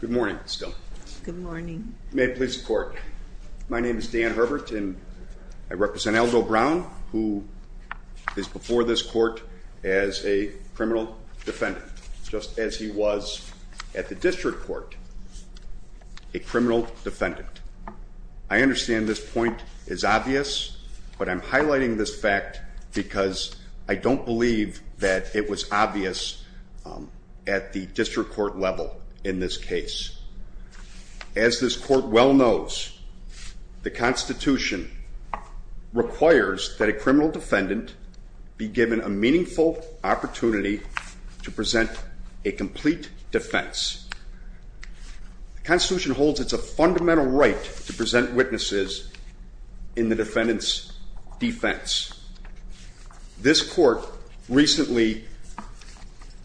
Good morning, still. Good morning. May it please the court. My name is Dan Herbert and I represent Aldo Brown who is before this court as a criminal defendant just as he was at the district court a criminal defendant. I understand this point is obvious but I'm highlighting this fact because I don't believe that it was obvious at the district court level in this case. As this court well knows the Constitution requires that a criminal defendant be given a meaningful opportunity to present a complete defense. The Constitution holds it's a fundamental right to present witnesses in the recently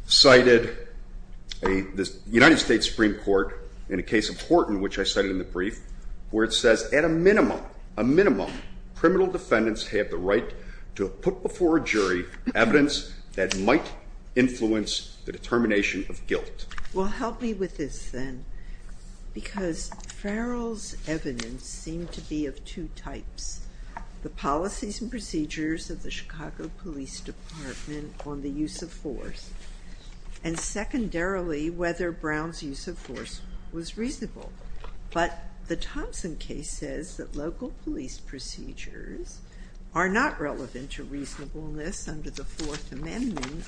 cited the United States Supreme Court in a case of Horton which I cited in the brief where it says at a minimum a minimum criminal defendants have the right to put before a jury evidence that might influence the determination of guilt. Well help me with this then because Farrell's evidence seemed to be of two on the use of force and secondarily whether Brown's use of force was reasonable but the Thompson case says that local police procedures are not relevant to reasonableness under the Fourth Amendment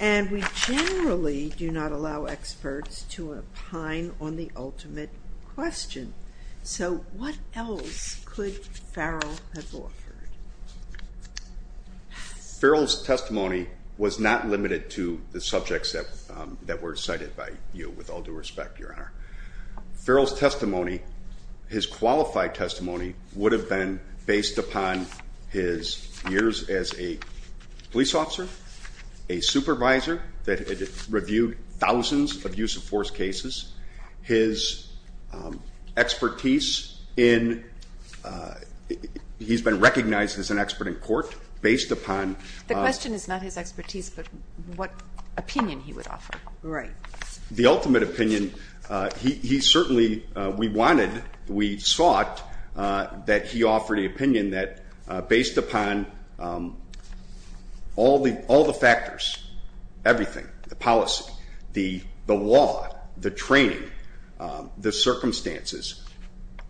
and we generally do not allow experts to opine on the ultimate question. So what else could Farrell have said? Farrell's testimony was not limited to the subjects that that were cited by you with all due respect your honor. Farrell's testimony his qualified testimony would have been based upon his years as a police officer, a supervisor that reviewed thousands of use of force cases, his expertise in he's been recognized as an expert in court based upon. The question is not his expertise but what opinion he would offer. Right the ultimate opinion he certainly we wanted we sought that he offered the opinion that based upon all the all the factors everything the policy the the law the training the circumstances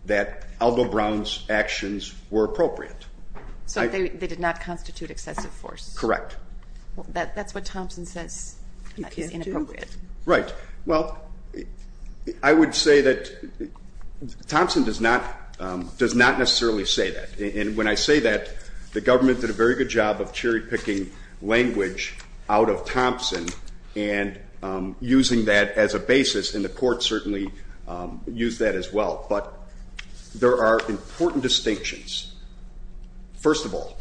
that Aldo Brown's actions were appropriate. So they did not constitute excessive force. Correct. That's what Thompson says is inappropriate. Right well I would say that Thompson does not does not necessarily say that and when I say that the government did a very good job of cherry-picking language out of Thompson and using that as a basis and the court certainly used that as well but there are important distinctions. First of all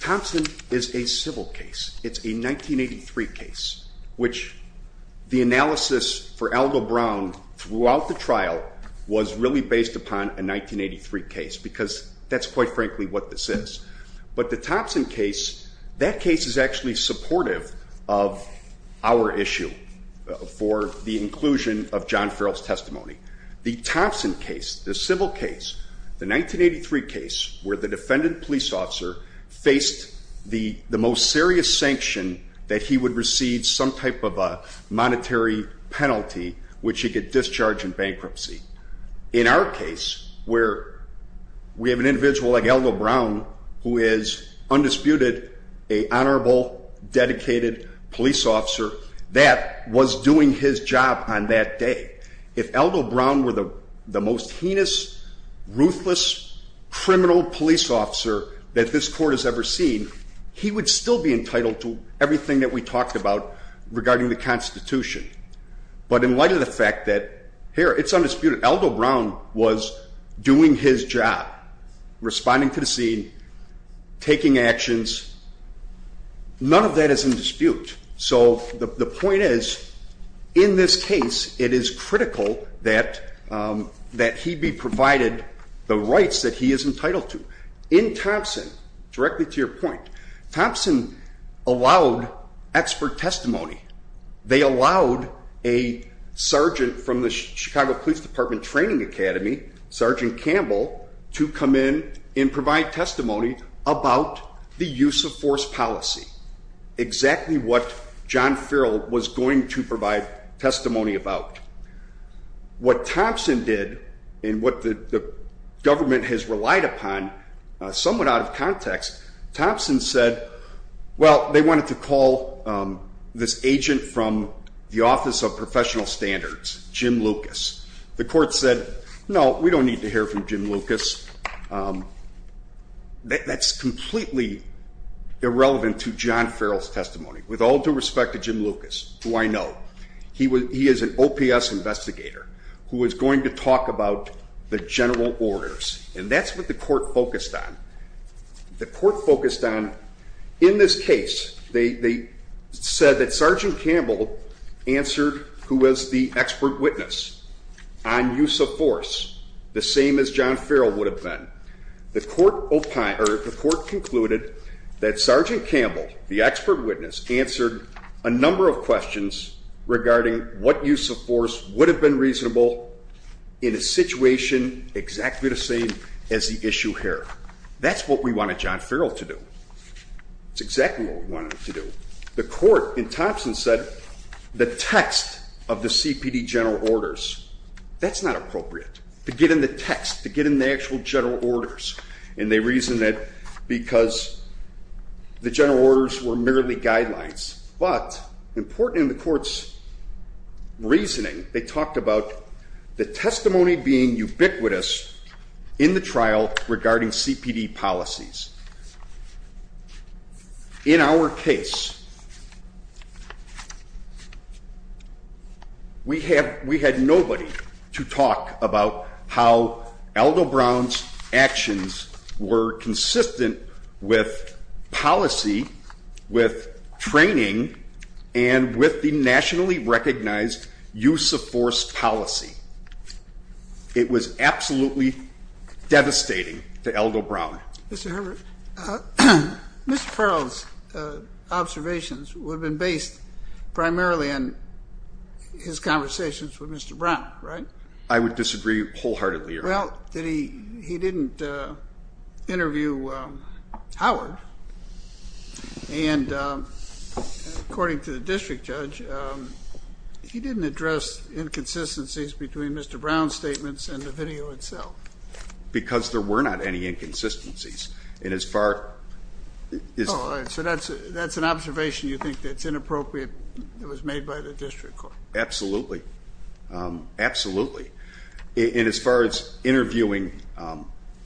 Thompson is a civil case it's a 1983 case which the analysis for Aldo Brown throughout the trial was really based upon a 1983 case because that's quite frankly what this is but the Thompson case that case is actually supportive of our issue for the inclusion of John Farrell's testimony. The Thompson case the civil case the 1983 case where the defendant police officer faced the the most serious sanction that he would receive some type of a monetary penalty which he could discharge in bankruptcy. In our case where we have an individual like Aldo Brown who is undisputed a honorable dedicated police officer that was doing his job on that day. If Aldo Brown were the the most heinous ruthless criminal police officer that this court has ever seen he would still be entitled to everything that we talked about regarding the Constitution but in light of the fact that here it's undisputed Aldo Brown was doing his job responding to the scene taking actions none of that is in dispute so the point is in this case it is critical that that he be provided the rights that he is entitled to. In Thompson directly to your point Thompson allowed expert testimony they allowed a sergeant from the Chicago Police Department training academy Sergeant Campbell to come in and provide testimony about the use of force policy exactly what John Farrell was going to provide testimony about. What Thompson did and what the government has relied upon somewhat out of context Thompson said well they wanted to call this agent from the Office of Professional Standards Jim Lucas the court said no we don't need to hear from Jim Lucas that's completely irrelevant to John Farrell's testimony with all due respect to Jim Lucas who I know he was he is an OPS investigator who was going to talk about the general orders and that's what the court focused on. The court focused on in this case they said that Sergeant Campbell answered who was the expert witness on use of force the same as John Farrell would have been. The court concluded that Sergeant Campbell the expert witness answered a number of questions regarding what use of force would have been reasonable in a situation exactly the same as the issue here. That's what we wanted John Farrell to do. It's exactly what we wanted him to do. The court in Thompson said the text of the CPD general orders that's not appropriate to get in the text to get in the actual general orders and they reason that because the general orders were merely guidelines but important in the court's reasoning they talked about testimony being ubiquitous in the trial regarding CPD policies. In our case we have we had nobody to talk about how Aldo Brown's actions were consistent with policy with training and with the nationally recognized use of force policy. It was absolutely devastating to Aldo Brown. Mr. Herbert, Mr. Farrell's observations would have been based primarily on his conversations with Mr. Brown right? I would disagree wholeheartedly. Well he didn't interview Howard and according to the district judge he didn't address inconsistencies between Mr. Brown's statements and the video itself. Because there were not any inconsistencies and as far... So that's that's an observation you think that's inappropriate that was made by the district court? Absolutely. Absolutely. And as far as interviewing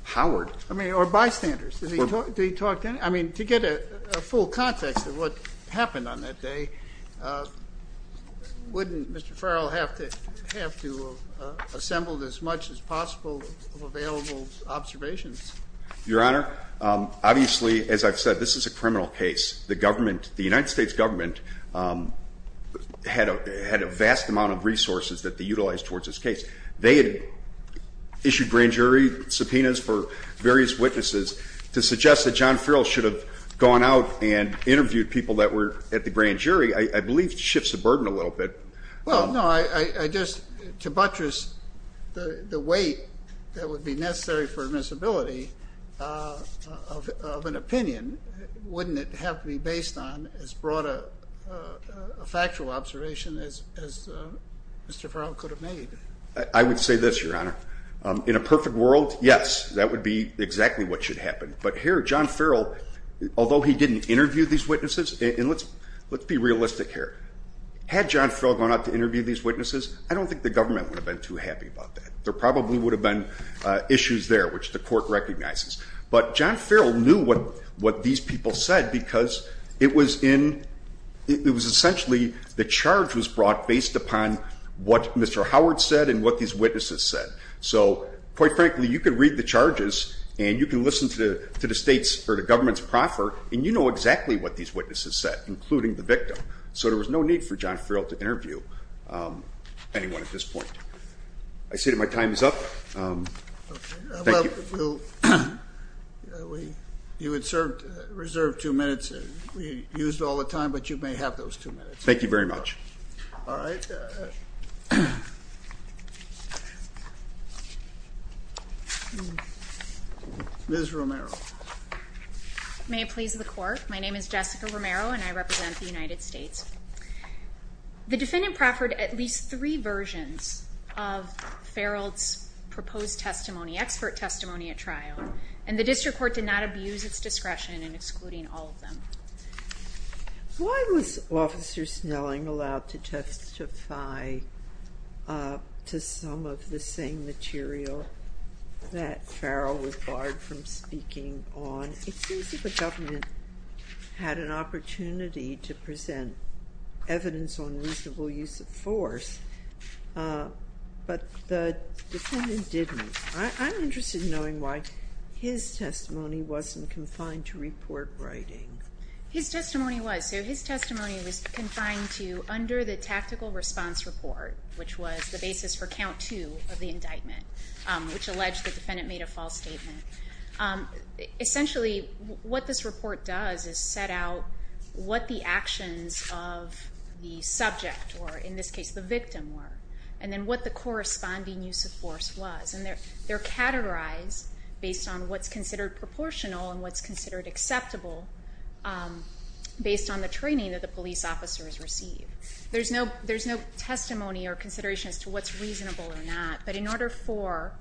Howard... I mean or bystanders. Did he talk to any? I mean to get a full context of what happened on that day, wouldn't Mr. Farrell have to have to assemble as much as possible of available observations? Your Honor, obviously as I've said this is a criminal case. The government, the United States government, had a vast amount of resources that they utilized towards this case. They had issued grand jury subpoenas for various witnesses to suggest that John gone out and interviewed people that were at the grand jury. I believe shifts the burden a little bit. Well no, I just, to buttress the weight that would be necessary for admissibility of an opinion, wouldn't it have to be based on as broad a factual observation as Mr. Farrell could have made? I would say this Your Honor. In a perfect world, yes, that would be exactly what should happen. But here, John Farrell, although he didn't interview these witnesses, and let's be realistic here. Had John Farrell gone out to interview these witnesses, I don't think the government would have been too happy about that. There probably would have been issues there, which the court recognizes. But John Farrell knew what these people said because it was in, it was essentially the charge was brought based upon what Mr. Howard said and what these witnesses said. So quite frankly, you could read the charges and you can listen to the state's or the government's proffer and you know exactly what these witnesses said, including the victim. So there was no need for John Farrell to interview anyone at this point. I see that my time is up. You had reserved two minutes. We use it all the time, but you may have those two minutes. Thank you very much. Ms. Romero. May it please the court, my name is Jessica Romero and I represent the United States. The defendant proffered at least three versions of Farrell's proposed testimony, expert testimony at trial, and the district court did not abuse its discretion in excluding all of them. Why was Officer that Farrell was barred from speaking on? It seems that the government had an opportunity to present evidence on reasonable use of force, but the defendant didn't. I'm interested in knowing why his testimony wasn't confined to report writing. His testimony was. So his testimony was confined to under the tactical response report, which was the basis for count two of the indictment, which alleged the defendant made a false statement. Essentially what this report does is set out what the actions of the subject, or in this case the victim, were and then what the corresponding use of force was. And they're categorized based on what's considered proportional and what's considered acceptable based on the training that the police officers receive. There's no testimony or consideration as to what's reasonable or not, but in order for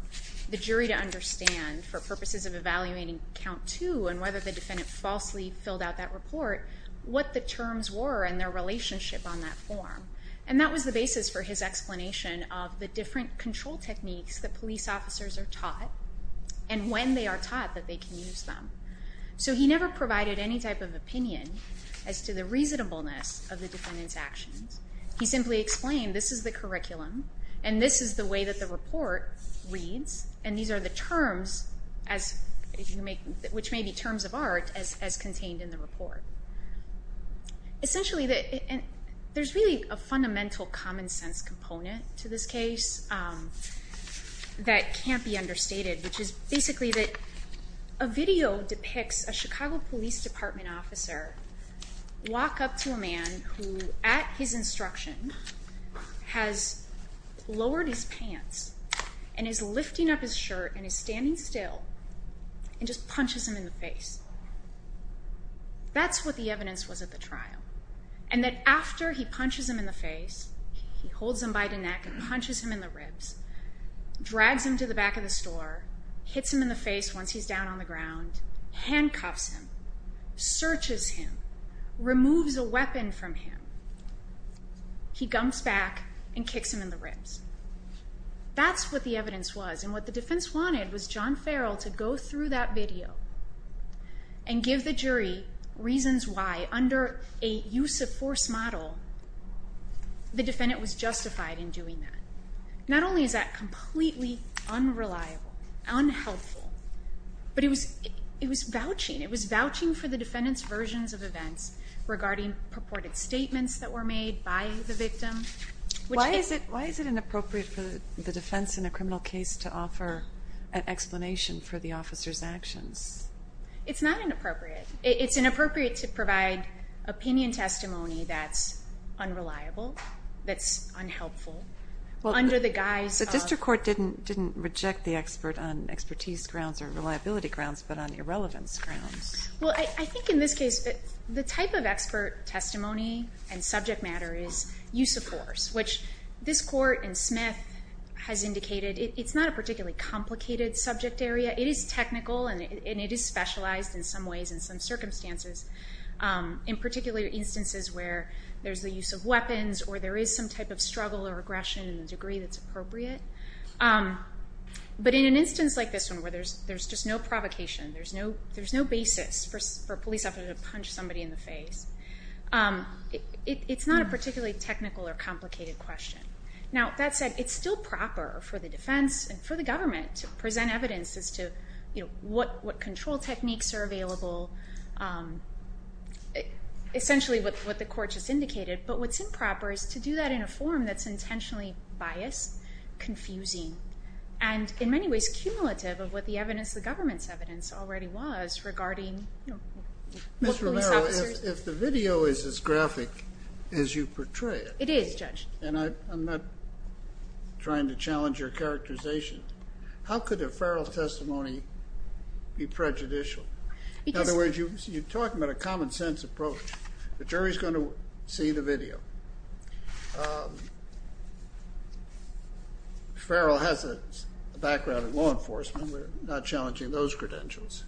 the jury to understand for purposes of evaluating count two and whether the defendant falsely filled out that report, what the terms were and their relationship on that form. And that was the basis for his explanation of the different control techniques that police officers are taught and when they are taught that they can use them. So he never provided any type of opinion as to the reasonableness of the defendant's curriculum. And this is the way that the report reads. And these are the terms, which may be terms of art, as contained in the report. Essentially, there's really a fundamental common sense component to this case that can't be understated, which is basically that a video depicts a Chicago police department officer walk up to a man who, at his instruction, has lowered his pants and is lifting up his shirt and is standing still and just punches him in the face. That's what the evidence was at the trial. And that after he punches him in the face, he holds him by the neck and punches him in the ribs, drags him to the back of the store, hits him in the face once he's down on the ground, handcuffs him, searches him, removes a weapon from him. He gumps back and kicks him in the ribs. That's what the evidence was. And what the defense wanted was John Farrell to go through that video and give the jury reasons why, under a use of force model, the defendant was justified in doing that. Not only is that completely unreliable, unhelpful, but it was vouching. It was vouching for the defendant's versions of events regarding purported statements that were made by the victim. Why is it inappropriate for the defense in a criminal case to offer an explanation for the officer's actions? It's not inappropriate. It's inappropriate to provide opinion testimony that's unreliable, that's unhelpful, under the guise of... The district court didn't reject the expert on expertise grounds or reliability grounds, but on irrelevance grounds. Well, I think in this case, the type of expert testimony and subject matter is use of force, which this court and Smith has indicated. It's not a particularly complicated subject area. It is technical and it is specialized in some ways and some circumstances, in particular instances where there's the use of weapons or there is some type of struggle or aggression in the degree that's appropriate. But in an instance like this one, where there's just no provocation, there's no basis for a police officer to punch somebody in the face, it's not a particularly technical or complicated question. Now, that said, it's still proper for the defense and for the government to present evidence as to what control techniques are available, essentially what the court just indicated. But what's improper is to do that in a form that's intentionally biased, confusing, and in many ways, cumulative of what the evidence, the government's evidence, already was regarding police officers. Mr. Romero, if the video is as graphic as you portray it... It is, Judge. And I'm not trying to challenge your characterization. How could a feral testimony be prejudicial? In other words, you're talking about a common sense approach. The jury's going to see the video. Feral has a background in law enforcement. We're not challenging those credentials.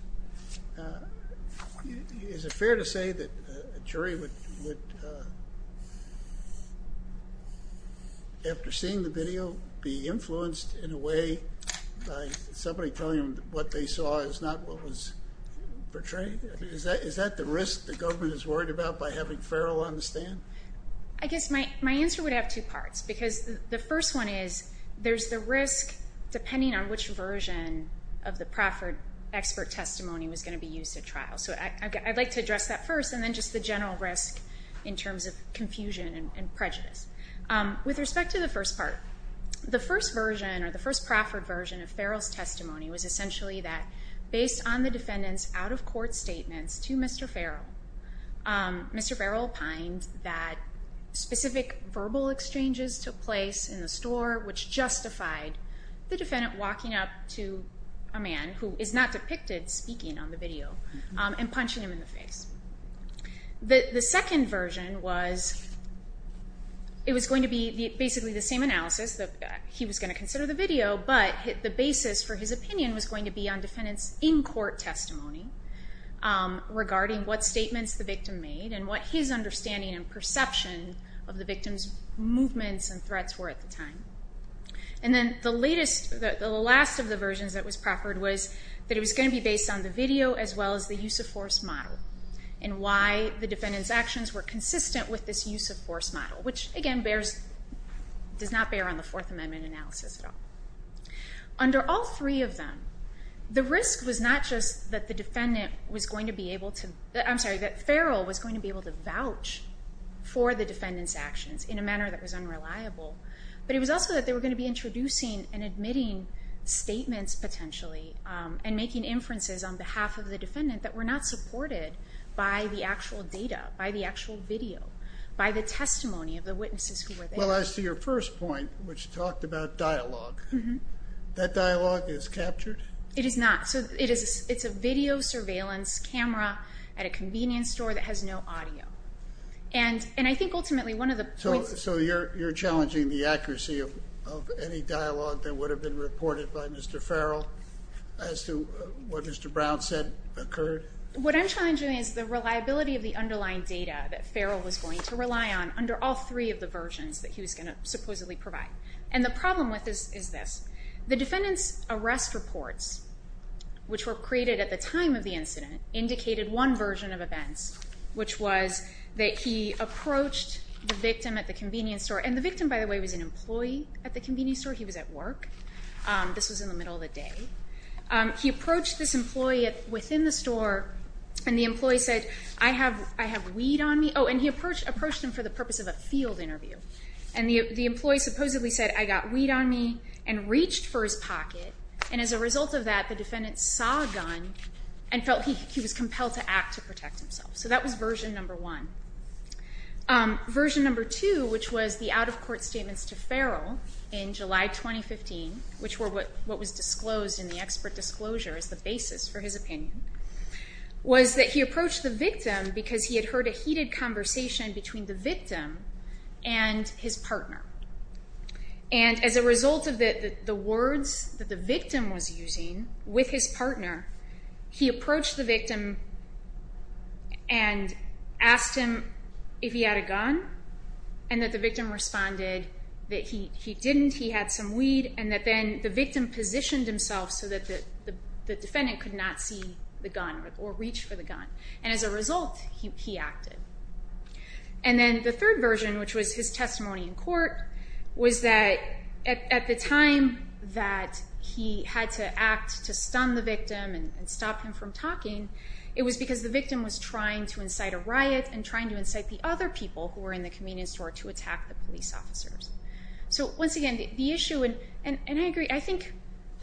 Is it fair to say that a jury would, after seeing the video, be influenced in a way by somebody telling them what they saw is not what was portrayed? Is that the risk the government is worried about by having feral on the stand? I guess my answer would have two parts. Because the first one is, there's the risk, depending on which version of the proffered expert testimony was going to be used at trial. I'd like to address that first, and then just the general risk in terms of confusion and prejudice. With respect to the first part, the first version or the first proffered version of feral's testimony was essentially that, based on the defendant's out-of-court statements to Mr. Feral, Mr. Feral opined that specific verbal exchanges took place in the store, which justified the defendant walking up to a man who is not depicted speaking on the video and punching him in the face. The second version was, it was going to be basically the same analysis that he was going to consider the video, but the basis for his opinion was going to be on defendant's in-court testimony regarding what statements the victim made and what his understanding and perception of the victim's movements and threats were at the time. And then the latest, the last of the versions that was proffered was that it was going to be based on the video as well as the use of force model, and why the defendant's actions were consistent with this use of force model, which again bears, does not bear on the Fourth Amendment analysis at all. Under all three of them, the risk was not just that the defendant was going to be able to, I'm sorry, that Feral was going to be able to vouch for the liable, but it was also that they were going to be introducing and admitting statements potentially and making inferences on behalf of the defendant that were not supported by the actual data, by the actual video, by the testimony of the witnesses who were there. Well as to your first point, which talked about dialogue, that dialogue is captured? It is not. So it is, it's a video surveillance camera at a convenience store that has no audio. And I think ultimately one of the points... So you're challenging the accuracy of any dialogue that would have been reported by Mr. Feral as to what Mr. Brown said occurred? What I'm challenging is the reliability of the underlying data that Feral was going to rely on under all three of the versions that he was going to supposedly provide. And the problem with this is this. The defendant's arrest reports, which were created at the time of the incident, indicated one version of events, which was that he approached the victim at the convenience store. And the victim, by the way, was an employee at the convenience store. He was at work. This was in the middle of the day. He approached this employee within the store, and the employee said, I have weed on me. Oh, and he approached him for the purpose of a field interview. And the employee supposedly said, I got weed on me, and reached for his pocket. And as a result of that, the defendant saw a gun and felt he was compelled to act to protect himself. So that was version number one. Version number two, which was the out-of-court statements to Feral in July 2015, which were what was disclosed in the expert disclosure as the basis for his opinion, was that he approached the victim because he had heard a heated conversation between the victim and his partner. And as a result of the words that the victim was using with his partner, he approached the victim and asked him if he had a gun, and that the victim responded that he didn't, he had some weed, and that then the victim positioned himself so that the defendant could not see the gun or reach for the gun. And as a result, he acted. And then the third version, which was his testimony in court, was that at the time that he had to act to stun the victim and stop him from talking, it was because the victim was trying to incite a riot and trying to incite the other people who were in the convenience store to attack the police officers. So once again, the issue, and I agree, I think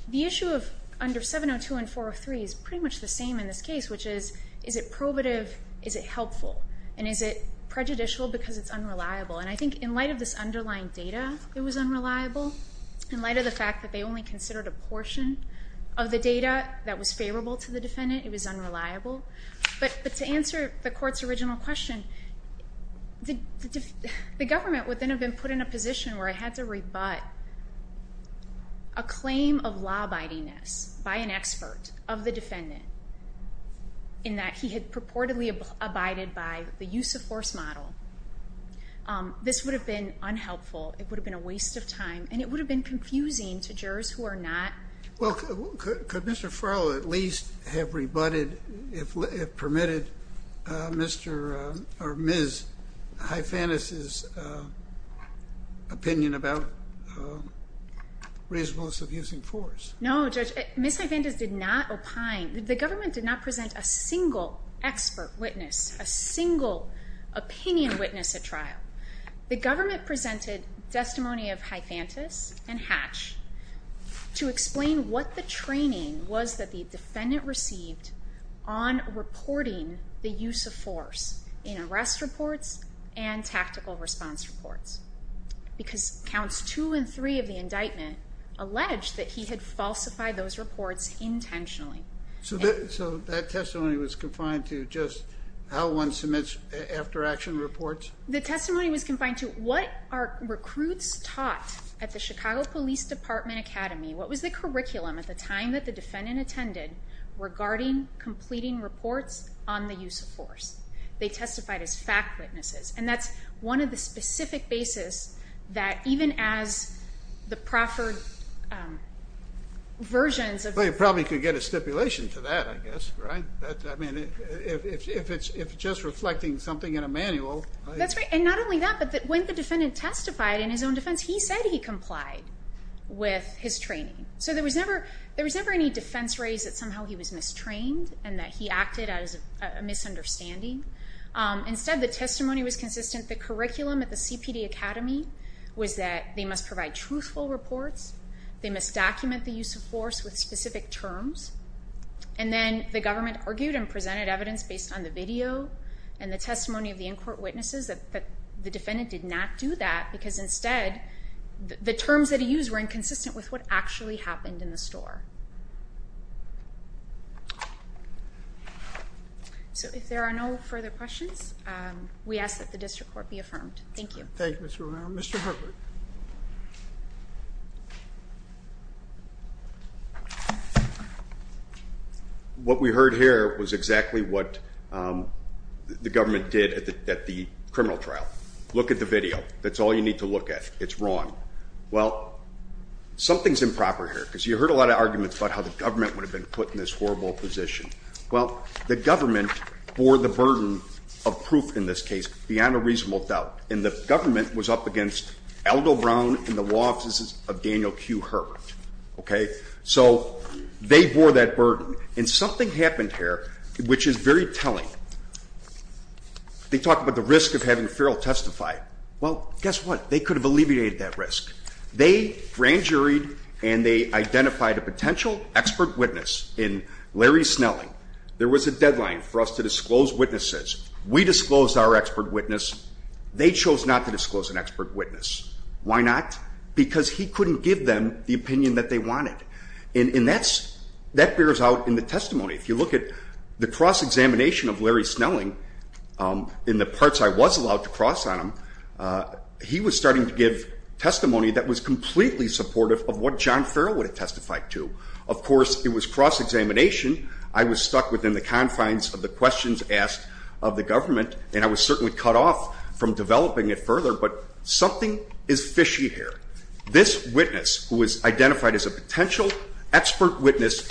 the issue of under 702 and 403 is pretty much the same in this case, which is, is it probative, is it helpful, and is it prejudicial because it's unreliable. And I think in light of this underlying data it was unreliable. In light of the fact that they only considered a portion of the data that was favorable to the defendant, it was unreliable. But to answer the court's original question, the government would then have been put in a position where I had to rebut a claim of law-abidingness by an expert of the defendant in that he had purportedly abided by the use-of-force model. This would have been unhelpful. It would have been a waste of time, and it would have been confusing to jurors who are not... Well, could Mr. Farrell at least have rebutted, if permitted, Mr. or Ms. Hyphandis' opinion about reasonableness of using force? No, Judge. Ms. Hyphandis did not opine. The government did not The government presented testimony of Hyphandis and Hatch to explain what the training was that the defendant received on reporting the use-of-force in arrest reports and tactical response reports, because Counts 2 and 3 of the indictment alleged that he had falsified those reports intentionally. So that testimony was confined to just how one submits after-action reports? The recruits taught at the Chicago Police Department Academy, what was the curriculum at the time that the defendant attended regarding completing reports on the use-of-force? They testified as fact witnesses, and that's one of the specific bases that even as the Crawford versions of... Well, you probably could get a stipulation to that, I guess, right? I mean, if it's just reflecting something in a manual... That's right, and not only that, but when the defendant testified in his own defense, he said he complied with his training. So there was never any defense raised that somehow he was mistrained and that he acted as a misunderstanding. Instead, the testimony was consistent. The curriculum at the CPD Academy was that they must provide truthful reports, they must document the use of force with specific terms, and then the government argued and presented evidence based on the video and the testimony of the in-court witnesses that the defendant did not do that, because instead, the terms that he used were inconsistent with what actually happened in the store. So if there are no further questions, we ask that the District Court be affirmed. Thank you. Thank you, Ms. Romero. Mr. Herbert. What we heard here was exactly what the government did at the criminal trial. Look at the video. That's all you need to look at. It's wrong. Well, something's improper here, because you heard a lot of arguments about how the government would have been put in this horrible position. Well, the government bore the burden of proof in this case beyond a reasonable doubt, and the government was up against Aldo Brown and the law offices of Daniel Q. Herbert, okay? So they bore that burden, and something happened here which is very telling. They talk about the risk of having Farrell testify. Well, guess what? They could have alleviated that risk. They ran jury, and they identified a potential expert witness in Larry Snelling. There was a deadline for us to disclose witnesses. We disclosed our expert witness. They chose not to disclose an expert witness. Why not? Because he couldn't give them the opinion that they wanted, and that bears out in the testimony. If you look at the cross-examination of Larry Snelling in the parts I was allowed to cross on him, he was starting to give testimony that was completely supportive of what John Farrell would have testified to. Of course, it was cross-examination. I was stuck within the confines of the questions asked of the government, and I was certainly cut off from developing it further, but something is fishy here. This witness, who was identified as a potential expert witness,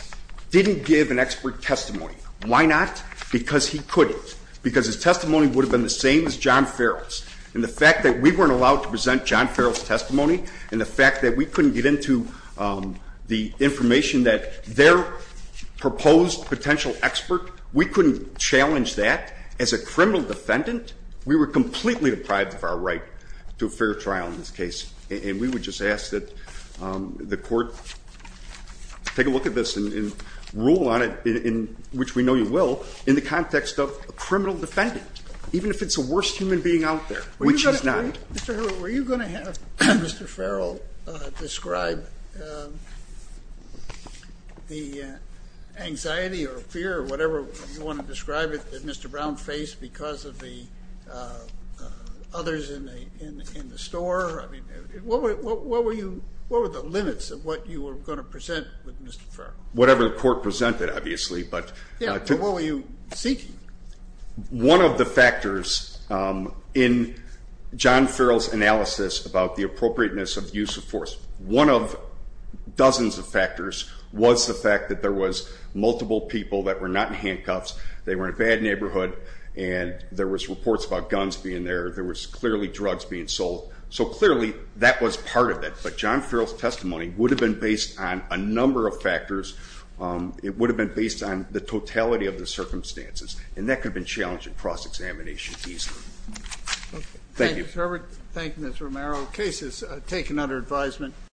didn't give an expert testimony. Why not? Because he couldn't. Because his testimony would have been the same as John Farrell's. And the fact that we weren't allowed to present John Farrell's testimony, and the fact that we couldn't get into the information that their proposed potential expert, we couldn't challenge that as a trial in this case. And we would just ask that the court take a look at this and rule on it, which we know you will, in the context of a criminal defendant, even if it's the worst human being out there, which he's not. Mr. Farrell, were you going to have Mr. Farrell describe the anxiety or fear or whatever you want to describe it that Mr. Brown faced because of the others in the store? I mean, what were the limits of what you were going to present with Mr. Farrell? Whatever the court presented, obviously, but... Yeah, but what were you seeking? One of the factors in John Farrell's analysis about the appropriateness of use of force, one of dozens of factors was the fact that there was multiple people that were not in handcuffs, they were in a bad neighborhood, and there was reports about being sold. So clearly, that was part of it, but John Farrell's testimony would have been based on a number of factors. It would have been based on the totality of the circumstances, and that could have been challenged in cross-examination easily. Thank you. Thank you, Mr. Herbert. Thank you, Ms. Romero. The case is taken under advisement.